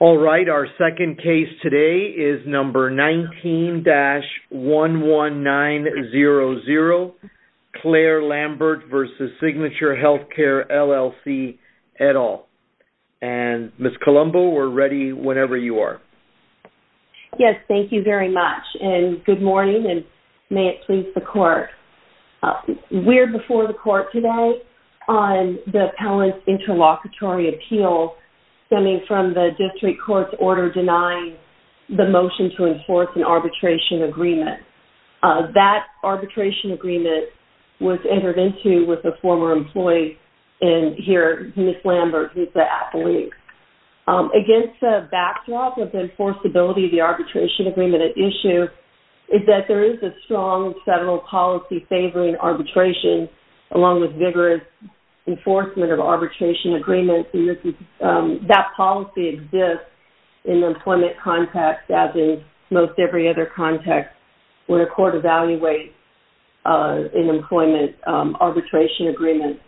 Alright, our second case today is number 19-11900, Claire Lambert v. Signature Healthcare, LLC, et al. And Ms. Colombo, we're ready whenever you are. Yes, thank you very much and good morning and may it please the court. We're before the court today on the appellant's interlocutory appeal stemming from the district court's order denying the motion to enforce an arbitration agreement. That arbitration agreement was entered into with a former employee and here, Ms. Lambert, who's the appellee. Against the backdrop of the enforceability of the arbitration agreement at issue is that there is a strong federal policy favoring arbitration along with vigorous enforcement of arbitration agreements. That policy exists in the employment context as in most every other context when a court evaluates an employment arbitration agreement.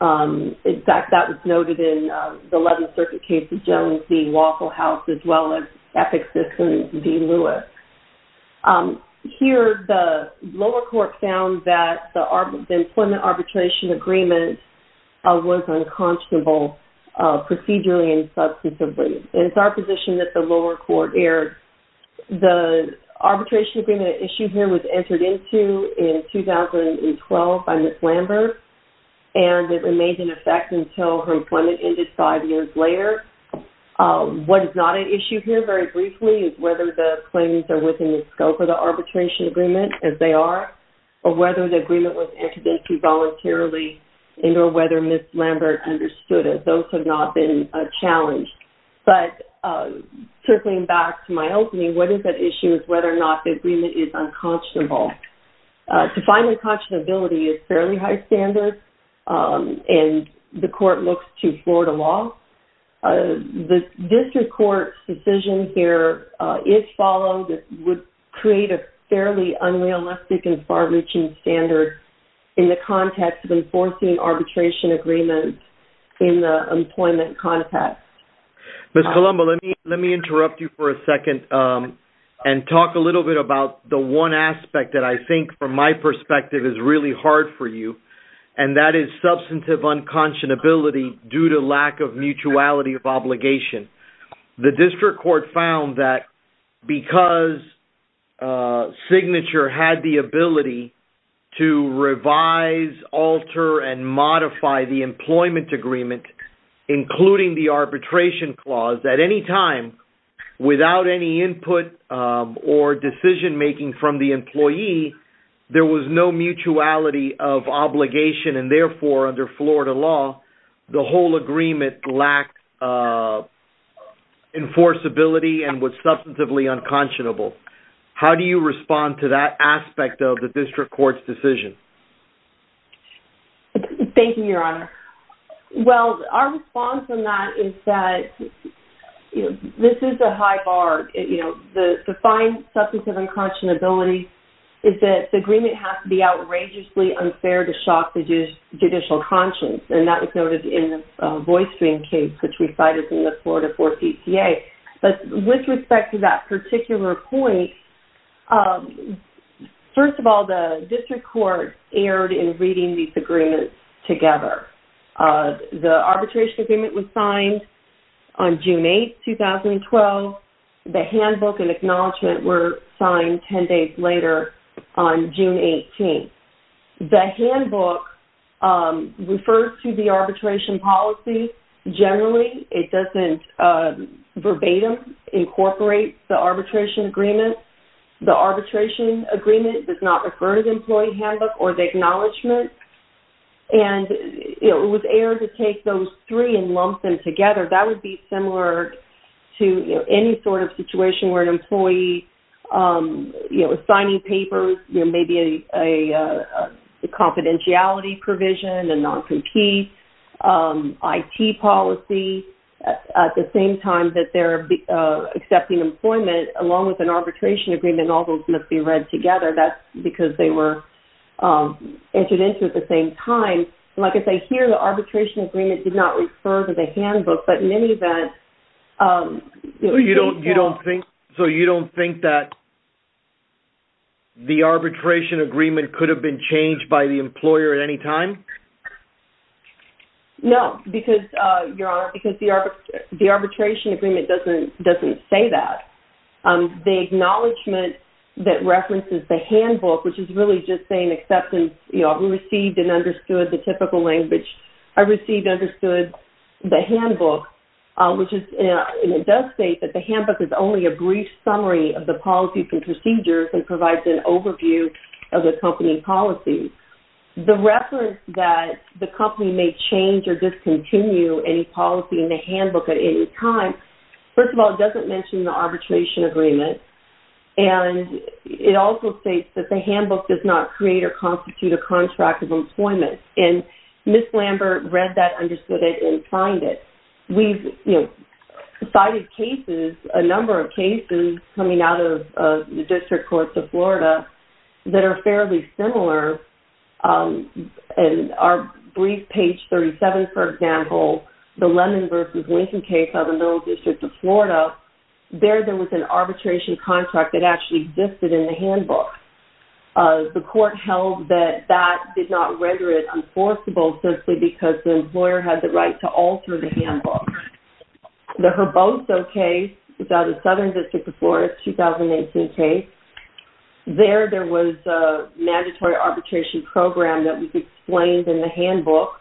In fact, that was noted in the 11th Circuit case of Jones v. Waffle House as well as Epic System v. Lewis. Here, the lower court found that the employment arbitration agreement was unconscionable procedurally and substantively. It's our position that the lower court erred. The arbitration agreement at issue here was entered into in 2012 by Ms. Lambert and it remained in effect until her employment ended five years later. What is not at issue here very briefly is whether the claims are within the scope of the arbitration agreement as they are or whether the agreement was entered into voluntarily and or whether Ms. Lambert understood it. Those have not been challenged. But circling back to my opening, what is at issue is whether or not the agreement is unconscionable. To find unconscionability is fairly high standard and the court looks to Florida law. The district court's decision here, if followed, would create a fairly unrealistic and far-reaching standard in the context of enforcing arbitration agreements in the employment context. Mr. Colombo, let me interrupt you for a second and talk a little bit about the one aspect that I think from my perspective is really hard for you and that is substantive unconscionability due to lack of mutuality of obligation. The district court found that because Signature had the ability to revise, alter, and modify the employment agreement, including the arbitration clause, at any time, without any input or decision-making from the employee, there was no mutuality of obligation. Therefore, under Florida law, the whole agreement lacked enforceability and was substantively unconscionable. How do you respond to that aspect of the district court's decision? Thank you, Your Honor. Well, our response on that is that this is a high bar. To find substantive unconscionability is that the agreement has to be outrageously unfair to shock the judicial conscience. That was noted in the VoiceDream case, which we cited in the Florida 4 CCA. With respect to that particular point, first of all, the district court erred in reading these agreements together. The arbitration agreement was signed on June 8, 2012. The handbook and acknowledgement were signed 10 days later on June 18. The handbook refers to the arbitration policy generally. It doesn't verbatim incorporate the arbitration agreement. The arbitration agreement does not refer to the employee handbook or the acknowledgement. It was error to take those three and lump them together. That would be similar to any sort of situation where an employee is signing papers, maybe a confidentiality provision, a non-compete IT policy. At the same time that they're accepting employment, along with an arbitration agreement, all those must be read together. That's because they were entered into at the same time. Like I say, here the arbitration agreement did not refer to the handbook, but in any event... So you don't think that the arbitration agreement could have been changed by the employer at any time? No, because the arbitration agreement doesn't say that. The acknowledgement that references the handbook, which is really just saying acceptance, we received and understood the typical language, I received and understood the handbook, which does state that the handbook is only a brief summary of the policies and procedures and provides an overview of the company policy. The reference that the company may change or discontinue any policy in the handbook at any time, first of all, it doesn't mention the arbitration agreement. It also states that the handbook does not create or constitute a contract of employment. Ms. Lambert read that, understood it, and signed it. We've cited cases, a number of cases, coming out of the District Courts of Florida that are fairly similar. In our brief page 37, for example, the Lemon v. Lincoln case out of the Middle District of Florida, there there was an arbitration contract that actually existed in the handbook. The court held that that did not render it enforceable simply because the employer had the right to alter the handbook. The Herboso case is out of Southern District of Florida, a 2018 case. There there was a mandatory arbitration program that was explained in the handbook.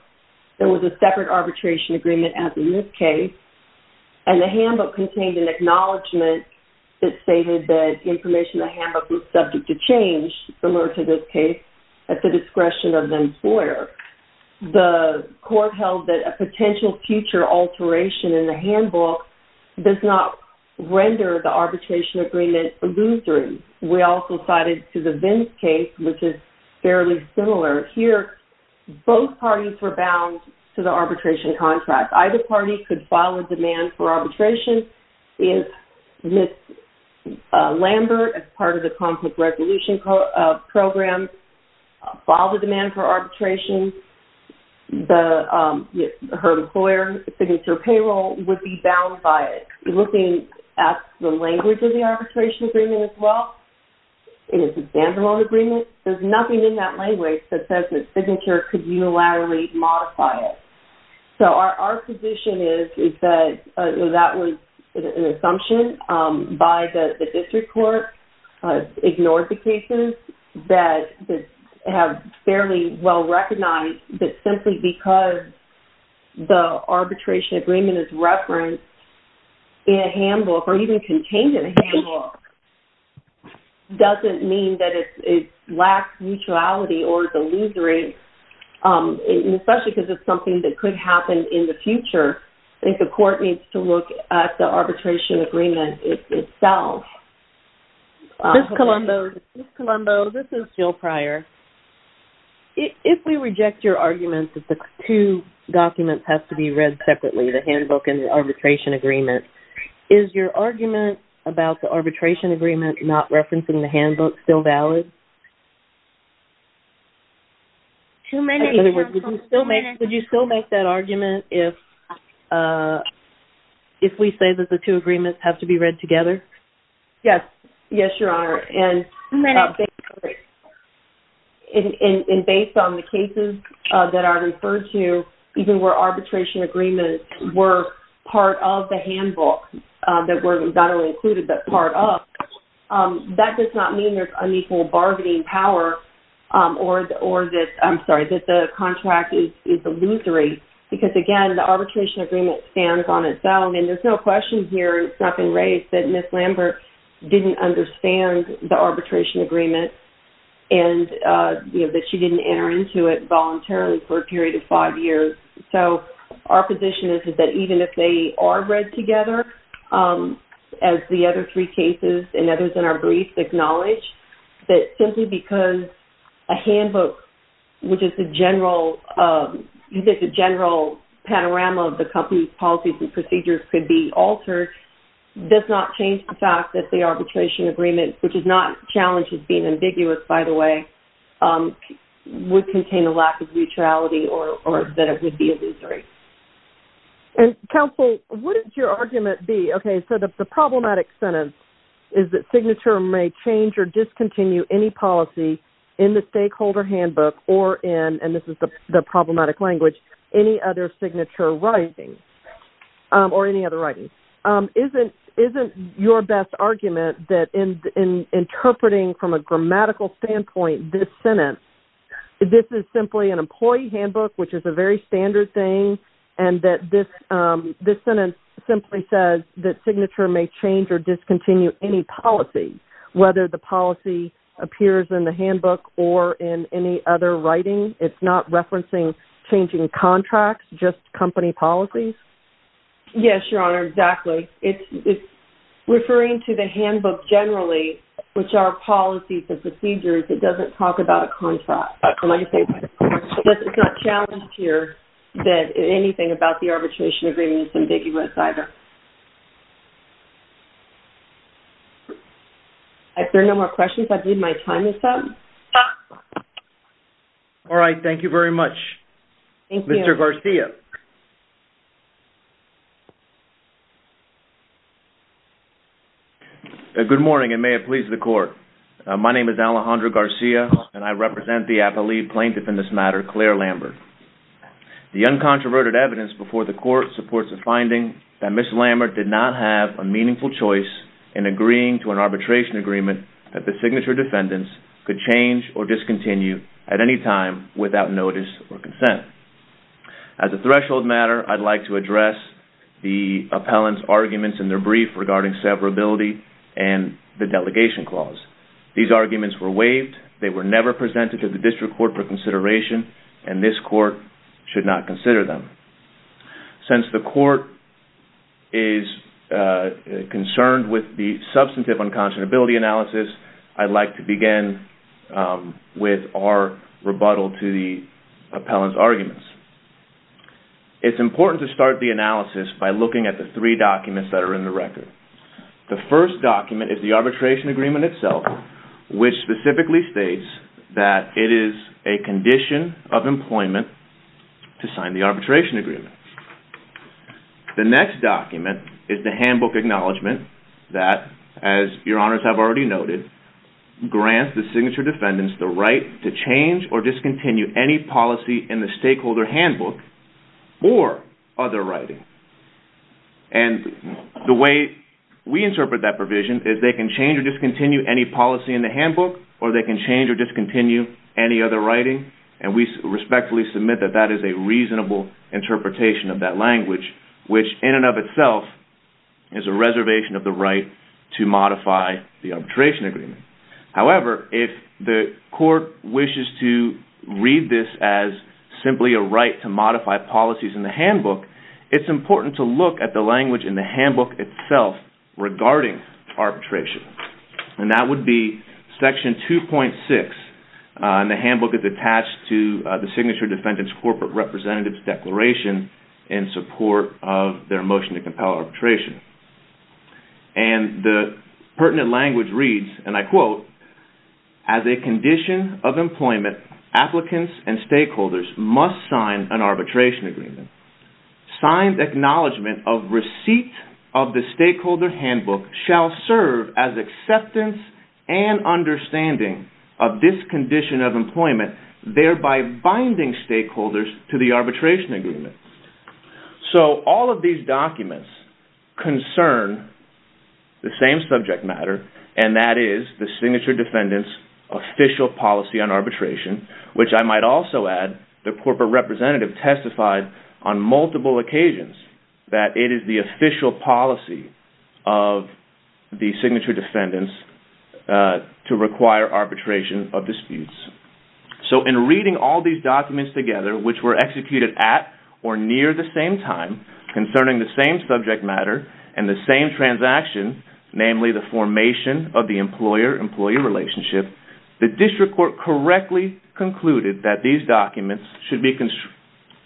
There was a separate arbitration agreement as in this case. And the handbook contained an acknowledgment that stated that information in the handbook was subject to change, similar to this case, at the discretion of the employer. The court held that a potential future alteration in the handbook does not render the arbitration agreement illusory. We also cited the Vince case, which is fairly similar. Here, both parties were bound to the arbitration contract. Either party could file a demand for arbitration. If Ms. Lambert, as part of the conflict resolution program, filed a demand for arbitration, her employer, Signature Payroll, would be bound by it. Looking at the language of the arbitration agreement as well, it is a standard loan agreement. There's nothing in that language that says that Signature could unilaterally modify it. So our position is that that was an assumption by the district court, ignored the cases that have fairly well recognized that simply because the arbitration agreement is referenced in a handbook or even contained in a handbook doesn't mean that it lacks mutuality or is illusory, especially because it's something that could happen in the future. I think the court needs to look at the arbitration agreement itself. Ms. Colombo, this is Jill Pryor. If we reject your argument that the two documents have to be read separately, the handbook and the arbitration agreement, is your argument about the arbitration agreement not referencing the handbook still valid? In other words, would you still make that argument if we say that the two agreements have to be read together? Yes. Yes, Your Honor. And based on the cases that are referred to, even where arbitration agreements were part of the handbook, that were not only included but part of, that does not mean there's unequal bargaining power or that the contract is illusory. Because again, the arbitration agreement stands on its own. And there's no question here, it's not been raised, that Ms. Lambert didn't understand the arbitration agreement and that she didn't enter into it voluntarily for a period of five years. So, our position is that even if they are read together, as the other three cases and others in our brief acknowledge, that simply because a handbook, which is the general panorama of the company's policies and procedures could be altered, does not change the fact that the arbitration agreement, which is not challenged as being ambiguous, by the way, would contain a lack of neutrality or that it would be illusory. And counsel, what would your argument be, okay, so the problematic sentence is that signature may change or discontinue any policy in the stakeholder handbook or in, and this is the problematic language, any other signature writing or any other writing. Isn't your best argument that in interpreting from a grammatical standpoint, this sentence, this is simply an employee handbook, which is a very standard thing and that this sentence simply says that signature may change or discontinue any policy, whether the policy appears in the handbook or in any other writing. It's not referencing changing contracts, just company policies? Yes, Your Honor, exactly. It's referring to the handbook generally, which are policies and procedures. It doesn't talk about a contract. It's not challenged here that anything about the arbitration agreement is ambiguous either. Are there no more questions? I believe my time is up. All right, thank you very much. Thank you. Mr. Garcia. Good morning and may it please the Court. My name is Alejandro Garcia and I represent the appellee plaintiff in this matter, Claire Lambert. The uncontroverted evidence before the Court supports the finding that Ms. Lambert did not have a meaningful choice in agreeing to an arbitration agreement that the signature defendants could change or discontinue at any time without notice or consent. There were two arguments in their brief regarding severability and the delegation clause. These arguments were waived. They were never presented to the District Court for consideration and this Court should not consider them. Since the Court is concerned with the substantive unconscionability analysis, it's important to start the analysis by looking at the three documents that are in the record. The first document is the arbitration agreement itself, which specifically states that it is a condition of employment to sign the arbitration agreement. The next document is the handbook acknowledgement that, as your Honours have already noted, grants the signature defendants the right to change or discontinue any policy in the stakeholder handbook or other writing. And the way we interpret that provision is they can change or discontinue any policy in the handbook or they can change or discontinue any other writing and we respectfully submit that that is a reasonable interpretation of that language, which in and of itself is a reservation of the right to modify the arbitration agreement. However, if the Court wishes to read this as simply a right to modify policies in the handbook, it's important to look at the language in the handbook itself regarding arbitration. And that would be section 2.6 in the handbook that's attached to the signature defendants corporate representative's declaration in support of their motion to compel arbitration. And the pertinent language reads, and I quote, as a condition of employment, applicants and stakeholders must sign an arbitration agreement. Signed acknowledgement of receipt of the stakeholder handbook shall serve as acceptance and understanding of this condition of employment, thereby binding stakeholders to the arbitration agreement. So all of these documents concern the same subject matter and that is the signature defendants' official policy on arbitration, which I might also add the corporate representative testified on multiple occasions that it is the official policy of the signature defendants to require arbitration of disputes. So in reading all these documents together, which were executed at or near the same time concerning the same subject matter and the same transaction, namely the formation of the employer-employee relationship, the district court correctly concluded that these documents should be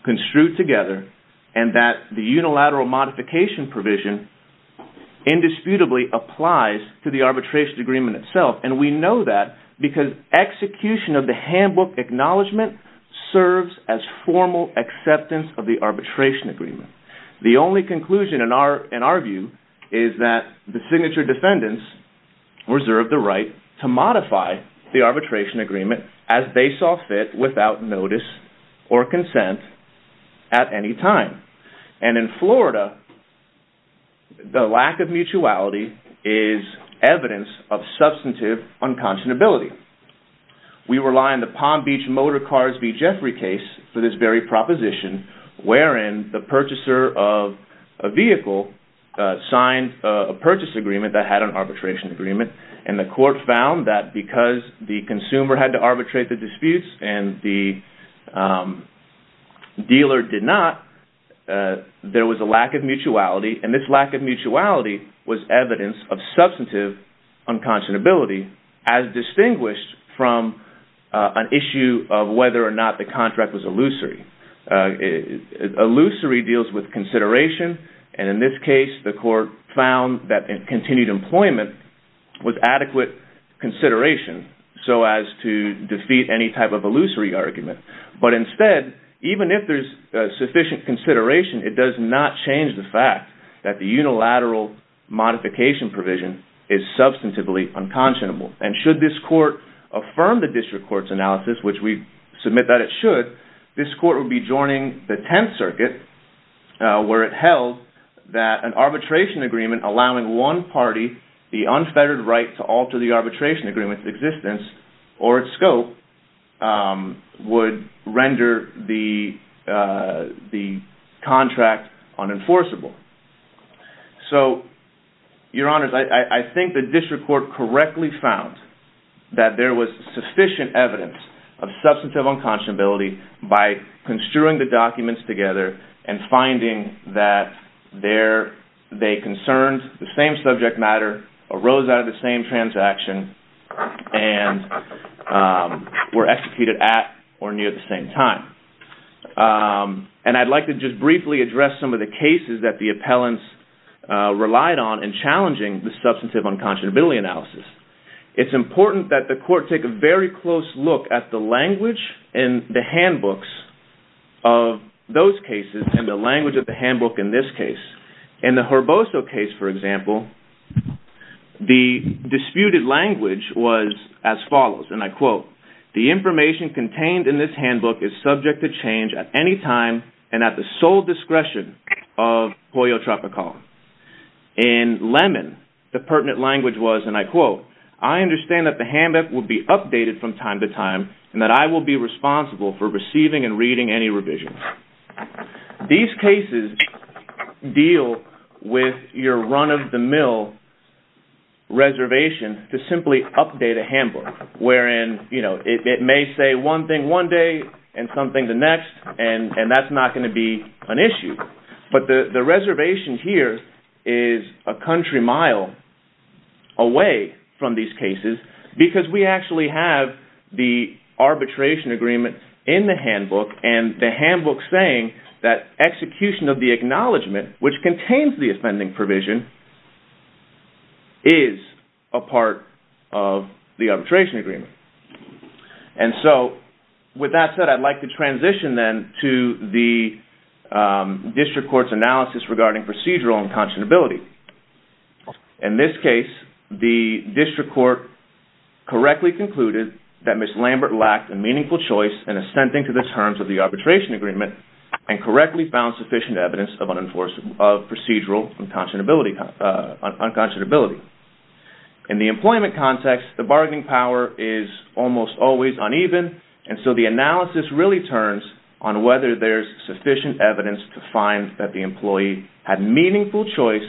construed together and that the unilateral modification provision indisputably applies to the arbitration agreement itself. And we know that because execution of the handbook acknowledgement serves as formal acceptance of the arbitration agreement. The only conclusion in our view is that the signature defendants reserve the right to modify the arbitration agreement as they saw fit without notice or consent at any time. And in Florida, the lack of mutuality is evidence of substantive unconscionability. We rely on the Palm Beach Motor Cars v. Jeffrey case for this very proposition, wherein the purchaser of a vehicle signed a purchase agreement that had an arbitration agreement and the court found that because the consumer had to arbitrate the disputes and the dealer did not, there was a lack of mutuality, and this lack of mutuality was evidence of substantive unconscionability as distinguished from an issue of whether or not the contract was illusory. Illusory deals with consideration, and in this case, the court found that continued employment was adequate consideration so as to defeat any type of illusory argument. But instead, even if there's sufficient consideration, it does not change the fact that the unilateral modification provision is substantively unconscionable. And should this court affirm the district court's analysis, which we submit that it should, this court would be joining the Tenth Circuit, where it held that an arbitration agreement allowing one party the unfettered right to alter the arbitration agreement's existence or its scope would render the contract unenforceable. So, Your Honors, I think the district court correctly found that there was sufficient evidence of substantive unconscionability by construing the documents together and finding that they concerned the same subject matter, arose out of the same transaction, and were executed at or near the same time. And I'd like to just briefly address some of the cases that the appellants relied on in challenging the substantive unconscionability analysis. It's important that the court take a very close look at the language in the handbooks of those cases and the language of the handbook in this case. In the Herboso case, for example, the disputed language was as follows, and I quote, The information contained in this handbook is subject to change at any time and at the sole discretion of Pollo Tropical. In Lemon, the pertinent language was, and I quote, I understand that the handbook will be updated from time to time and that I will be responsible for receiving and reading any revisions. These cases deal with your run-of-the-mill reservation to simply update a handbook, wherein it may say one thing one day and something the next, and that's not going to be an issue. But the reservation here is a country mile away from these cases because we actually have the arbitration agreement in the handbook and the handbook saying that execution of the acknowledgement, which contains the offending provision, is a part of the arbitration agreement. And so, with that said, I'd like to transition then to the district court's analysis regarding procedural and conscionability. In this case, the district court correctly concluded that Ms. Lambert lacked a meaningful choice in assenting to the terms of the arbitration agreement and correctly found sufficient evidence of procedural and conscionability. In the employment context, the bargaining power is almost always uneven, and so the analysis really turns on whether there's sufficient evidence to find that the employee had meaningful choice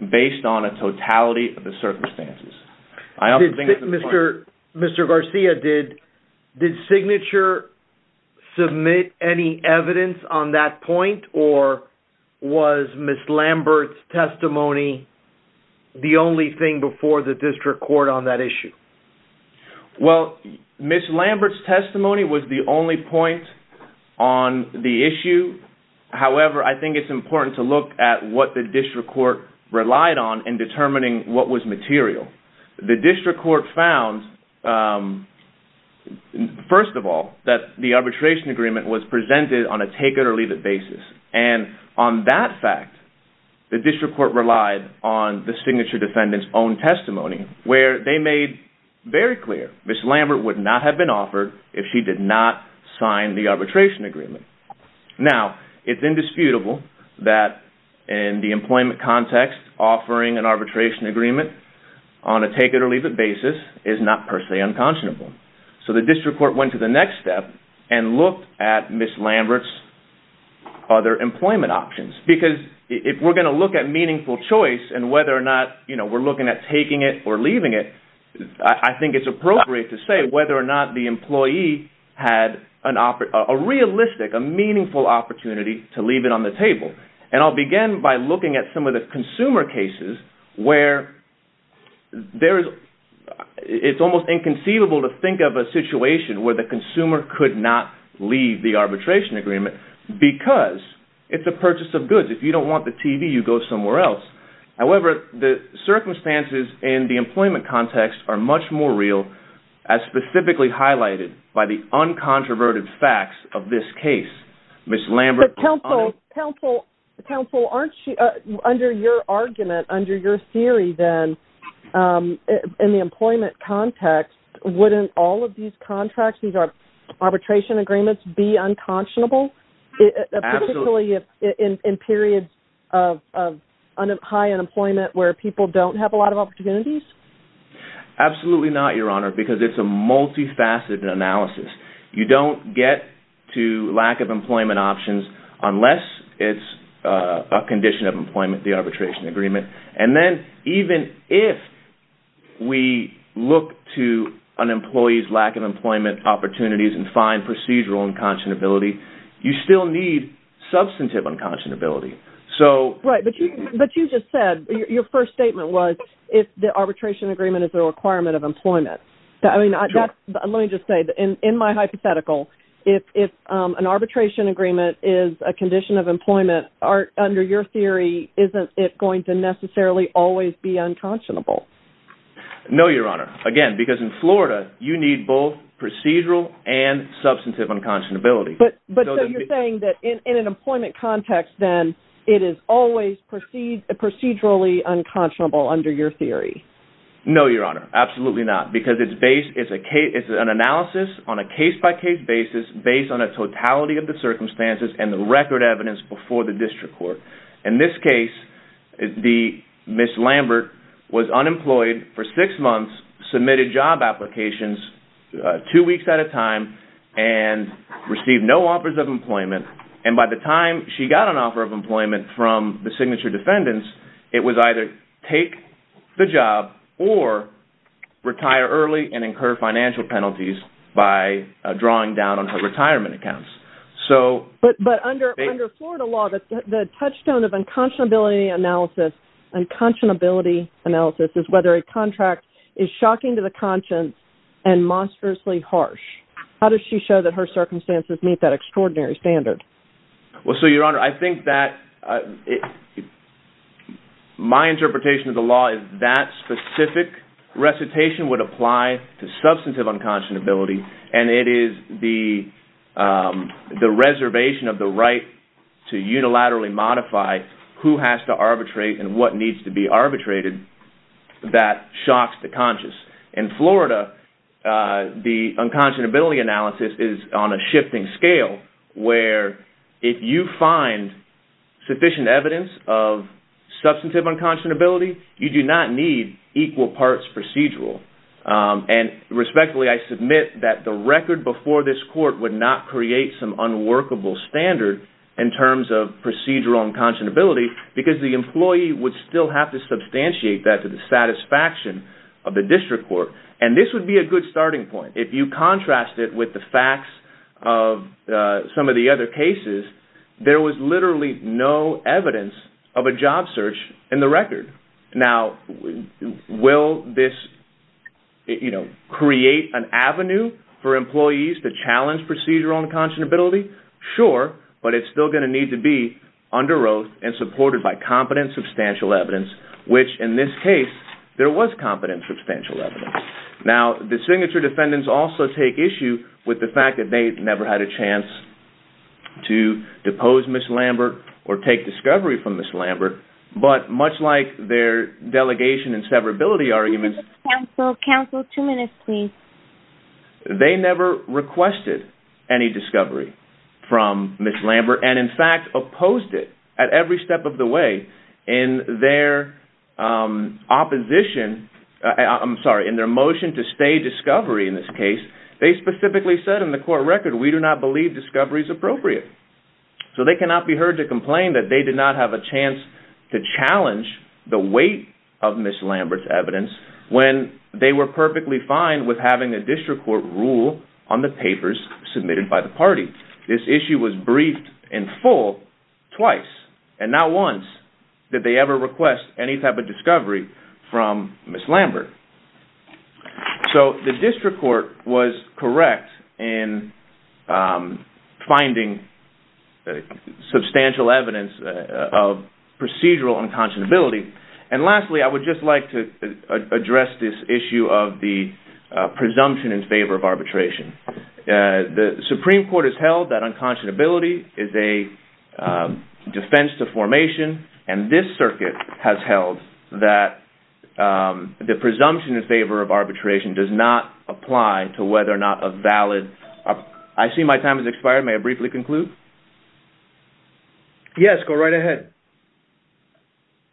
based on a totality of the circumstances. Mr. Garcia, did Signature submit any evidence on that point, or was Ms. Lambert's testimony the only thing before the district court on that issue? Well, Ms. Lambert's testimony was the only point on the issue. However, I think it's important to look at what the district court relied on in determining what was material. The district court found, first of all, that the arbitration agreement was presented on a take-it-or-leave-it basis. And on that fact, the district court relied on the Signature defendant's own testimony, where they made very clear Ms. Lambert would not have been offered if she did not sign the arbitration agreement. Now, it's indisputable that in the employment context, offering an arbitration agreement on a take-it-or-leave-it basis is not per se unconscionable. So the district court went to the next step and looked at Ms. Lambert's other employment options. Because if we're going to look at meaningful choice and whether or not we're looking at taking it or leaving it, I think it's appropriate to say whether or not the employee had a realistic, a meaningful opportunity to leave it on the table. And I'll begin by looking at some of the consumer cases where it's almost inconceivable to think of a situation where the consumer could not leave the arbitration agreement because it's a purchase of goods. If you don't want the TV, you go somewhere else. However, the circumstances in the employment context are much more real as specifically highlighted by the uncontroverted facts of this case. But counsel, under your argument, under your theory then, in the employment context, wouldn't all of these contracts, these arbitration agreements, be unconscionable? Absolutely. Particularly in periods of high unemployment where people don't have a lot of opportunities? Absolutely not, Your Honor, because it's a multifaceted analysis. You don't get to lack of employment options unless it's a condition of employment, the arbitration agreement. And then even if we look to an employee's lack of employment opportunities and find procedural unconscionability, you still need substantive unconscionability. Right, but you just said, your first statement was if the arbitration agreement is a requirement of employment. Let me just say, in my hypothetical, if an arbitration agreement is a condition of employment, under your theory, isn't it going to necessarily always be unconscionable? No, Your Honor, again, because in Florida, you need both procedural and substantive unconscionability. But you're saying that in an employment context then, it is always procedurally unconscionable under your theory? No, Your Honor, absolutely not, because it's an analysis on a case-by-case basis based on a totality of the circumstances and the record evidence before the district court. In this case, Ms. Lambert was unemployed for six months, submitted job applications two weeks at a time, and received no offers of employment. And by the time she got an offer of employment from the signature defendants, it was either take the job or retire early and incur financial penalties by drawing down on her retirement accounts. But under Florida law, the touchstone of unconscionability analysis is whether a contract is shocking to the conscience and monstrously harsh. How does she show that her circumstances meet that extraordinary standard? Well, so, Your Honor, I think that my interpretation of the law is that specific recitation would apply to substantive unconscionability, and it is the reservation of the right to unilaterally modify who has to arbitrate and what needs to be arbitrated that shocks the conscience. In Florida, the unconscionability analysis is on a shifting scale where if you find sufficient evidence of substantive unconscionability, you do not need equal parts procedural. And respectfully, I submit that the record before this court would not create some unworkable standard in terms of procedural unconscionability because the employee would still have to substantiate that to the satisfaction of the district court. And this would be a good starting point. If you contrast it with the facts of some of the other cases, there was literally no evidence of a job search in the record. Now, will this create an avenue for employees to challenge procedural unconscionability? Sure, but it's still going to need to be under oath and supported by competent substantial evidence, which in this case, there was competent substantial evidence. Now, the signature defendants also take issue with the fact that they never had a chance to depose Ms. Lambert or take discovery from Ms. Lambert, but much like their delegation and severability arguments, Counsel, two minutes, please. they never requested any discovery from Ms. Lambert and, in fact, opposed it at every step of the way. In their opposition, I'm sorry, in their motion to stay discovery in this case, they specifically said in the court record, we do not believe discovery is appropriate. So they cannot be heard to complain that they did not have a chance to challenge the weight of Ms. Lambert's evidence when they were perfectly fine with having a district court rule on the papers submitted by the party. This issue was briefed in full twice, and not once. Did they ever request any type of discovery from Ms. Lambert? So the district court was correct in finding substantial evidence of procedural unconscionability. And lastly, I would just like to address this issue of the presumption in favor of arbitration. The Supreme Court has held that unconscionability is a defense to formation, and this circuit has held that the presumption in favor of arbitration does not apply to whether or not a valid... I see my time has expired. May I briefly conclude? Yes, go right ahead.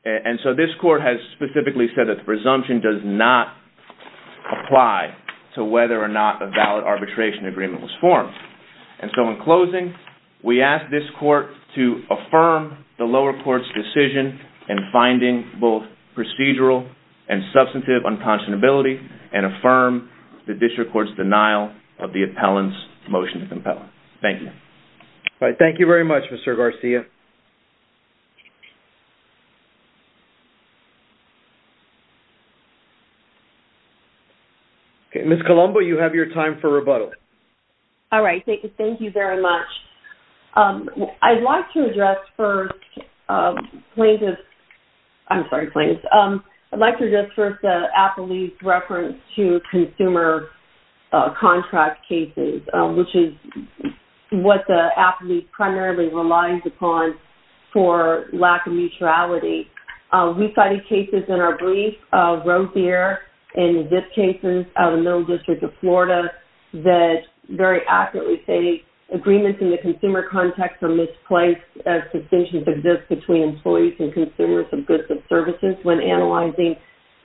And so this court has specifically said that the presumption does not apply to whether or not a valid arbitration agreement was formed. And so in closing, we ask this court to affirm the lower court's decision in finding both procedural and substantive unconscionability, and affirm the district court's denial of the appellant's motion to compel. Thank you. Thank you very much, Mr. Garcia. Ms. Colombo, you have your time for rebuttal. All right, thank you very much. I'd like to address first plaintiffs... I'm sorry, plaintiffs. I'd like to address first the appellee's reference to consumer contract cases, which is what the appellee primarily relies upon for lack of neutrality. We cited cases in our brief, Rose here, and in this case, the middle district of Florida, that very accurately say agreements in the consumer context are misplaced as suspensions exist between employees and consumers of goods and services when analyzing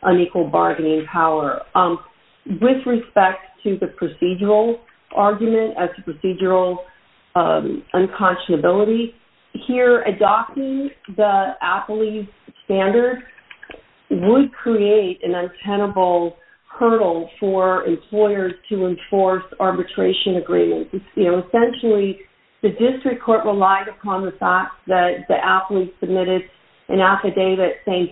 unequal bargaining power. With respect to the procedural argument as to procedural unconscionability, here adopting the appellee's standard would create an untenable hurdle for employers to enforce arbitration agreements. Essentially, the district court relied upon the fact that the appellee submitted an affidavit saying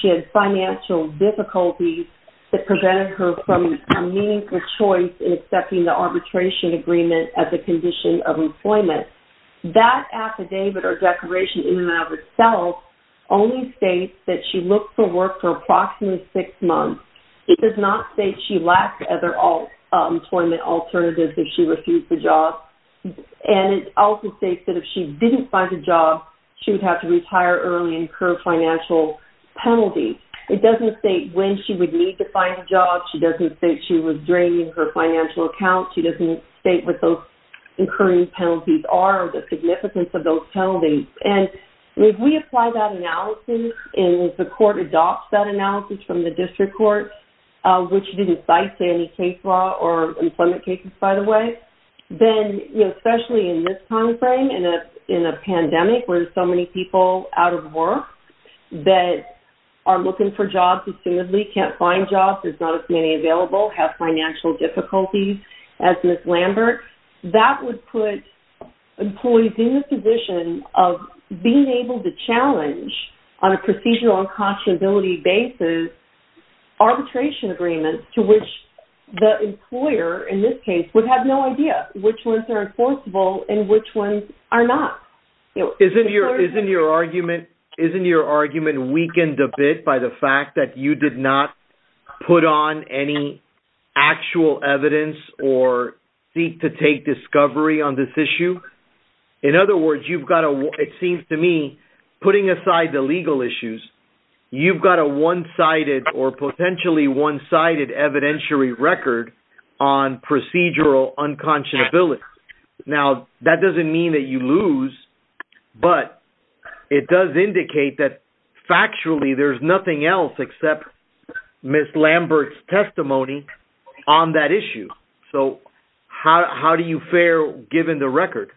she had financial difficulties that prevented her from a meaningful choice in accepting the arbitration agreement as a condition of employment. That affidavit or declaration in and of itself only states that she looked for work for approximately six months. It does not state she lacked other employment alternatives if she refused the job. And it also states that if she didn't find a job, she would have to retire early and incur financial penalties. It doesn't state when she would need to find a job. She doesn't state she was draining her financial account. She doesn't state what those incurring penalties are or the significance of those penalties. And if we apply that analysis, and the court adopts that analysis from the district court, which didn't cite any case law or employment cases, by the way, then, you know, especially in this time frame, in a pandemic where there's so many people out of work that are looking for jobs, and simply can't find jobs, there's not as many available, have financial difficulties, as Ms. Lambert, that would put employees in the position of being able to challenge, on a procedural and cautionability basis, arbitration agreements to which the employer, in this case, would have no idea which ones are enforceable and which ones are not. Isn't your argument weakened a bit by the fact that you did not put on any actual evidence or seek to take discovery on this issue? In other words, you've got a, it seems to me, putting aside the legal issues, you've got a one-sided or potentially one-sided evidentiary record on procedural unconscionability. Now, that doesn't mean that you lose, but it does indicate that, factually, there's nothing else except Ms. Lambert's testimony on that issue. So, how do you fare, given the record?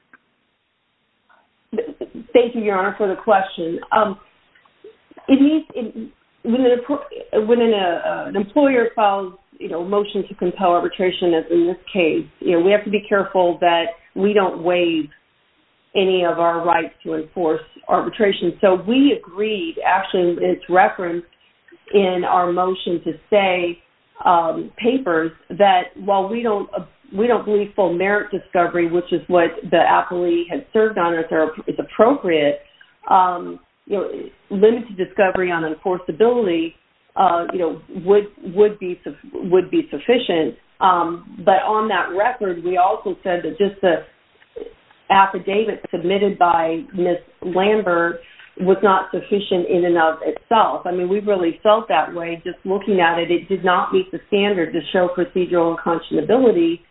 Thank you, Your Honor, for the question. When an employer files a motion to compel arbitration, as in this case, we have to be careful that we don't waive any of our rights to enforce arbitration. So, we agreed, actually it's referenced in our motion to say papers, that while we don't believe full merit discovery, which is what the appellee had served on as appropriate, limited discovery on enforceability would be sufficient. But on that record, we also said that just the affidavit submitted by Ms. Lambert was not sufficient in and of itself. I mean, we really felt that way just looking at it. It did not meet the standard to show procedural unconscionability.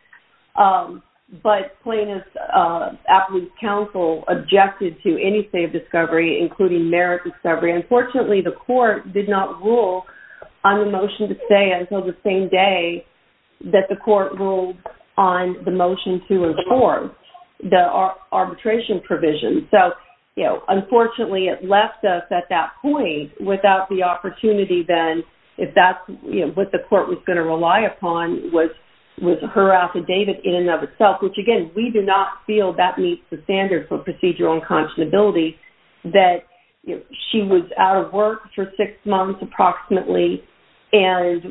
But plaintiff's appellate counsel objected to any state of discovery, including merit discovery. Unfortunately, the court did not rule on the motion to stay until the same day that the court ruled on the motion to enforce the arbitration provision. So, you know, unfortunately, it left us at that point without the opportunity then if that's what the court was going to rely upon was her affidavit in and of itself, which again, we did not feel that meets the standard for procedural unconscionability that she was out of work for six months approximately and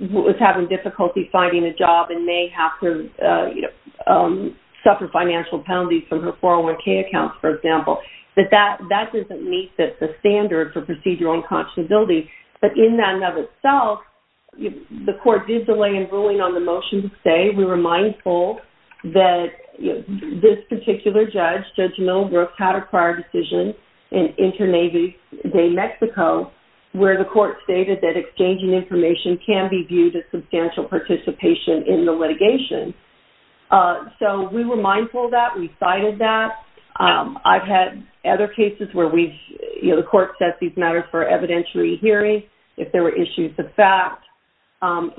was having difficulty finding a job and may have to suffer financial penalties from her 401K account, for example. That doesn't meet the standard for procedural unconscionability. But in and of itself, the court did delay in ruling on the motion to stay. We were mindful that this particular judge, Judge Millbrook, had a prior decision in Internazi de Mexico where the court stated that exchanging information can be viewed as substantial participation in the litigation. So we were mindful of that. We cited that. I've had other cases where we've, you know, the court sets these matters for evidentiary hearing. If there were issues of fact,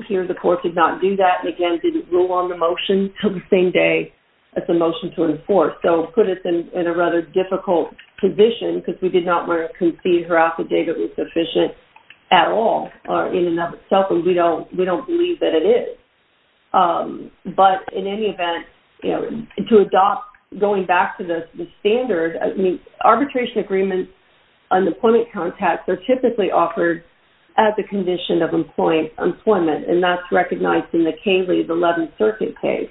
here the court did not do that, and again, didn't rule on the motion until the same day as the motion to enforce. So it put us in a rather difficult position because we did not want to concede her affidavit was sufficient at all or in and of itself, and we don't believe that it is. But in any event, you know, to adopt going back to the standard, I mean, arbitration agreements on employment contacts are typically offered as a condition of employment, and that's recognized in the Cayley's 11th Circuit case.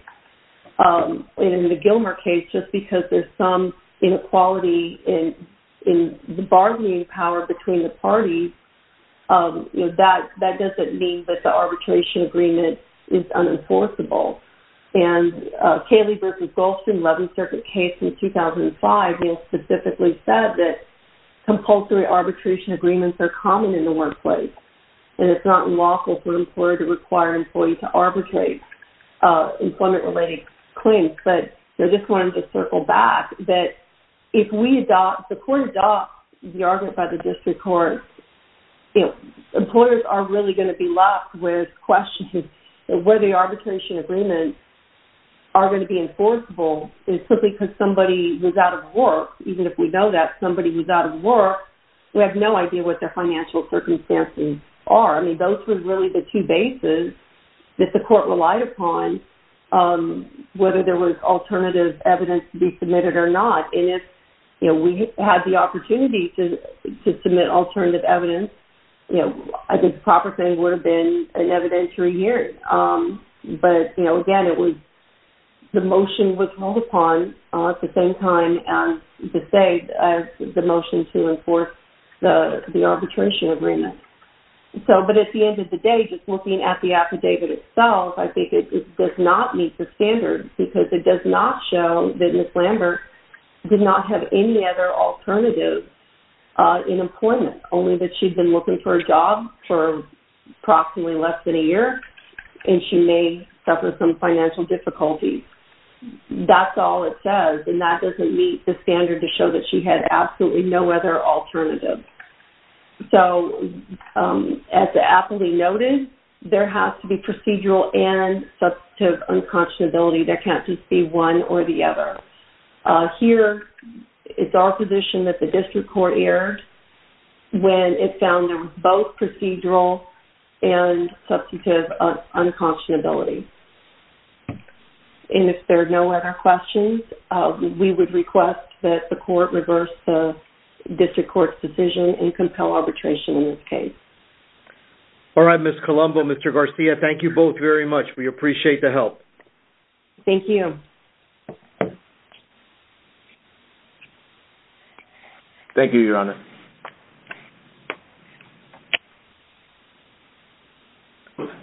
In the Gilmer case, just because there's some inequality in the bargaining power between the parties, you know, that doesn't mean that the arbitration agreement is unenforceable. And Cayley versus Goldstein 11th Circuit case in 2005, you know, specifically said that compulsory arbitration agreements are common in the workplace, and it's not unlawful for an employer to require an employee to arbitrate employment-related claims. But I just wanted to circle back that if we adopt, if the court adopts the argument by the district court, employers are really going to be left with questions of whether the arbitration agreements are going to be enforceable simply because somebody was out of work. Even if we know that somebody was out of work, we have no idea what their financial circumstances are. I mean, those were really the two bases that the court relied upon whether there was alternative evidence to be submitted or not. And if we had the opportunity to submit alternative evidence, I think the proper thing would have been an evidentiary hearing. But, you know, again, the motion was held upon at the same time as the motion to enforce the arbitration agreement. But at the end of the day, just looking at the affidavit itself, I think it does not meet the standard because it does not show that Ms. Lambert did not have any other alternative in employment, only that she'd been looking for a job for approximately less than a year and she may suffer some financial difficulties. That's all it says, and that doesn't meet the standard to show that she had absolutely no other alternative. So as Appley noted, there has to be procedural and substantive unconscionability that can't just be one or the other. Here, it's our position that the district court erred when it found there was both procedural and substantive unconscionability. And if there are no other questions, we would request that the court reverse the district court's decision and compel arbitration in this case. All right, Ms. Colombo, Mr. Garcia, thank you both very much. We appreciate the help. Thank you. Thank you, Your Honor.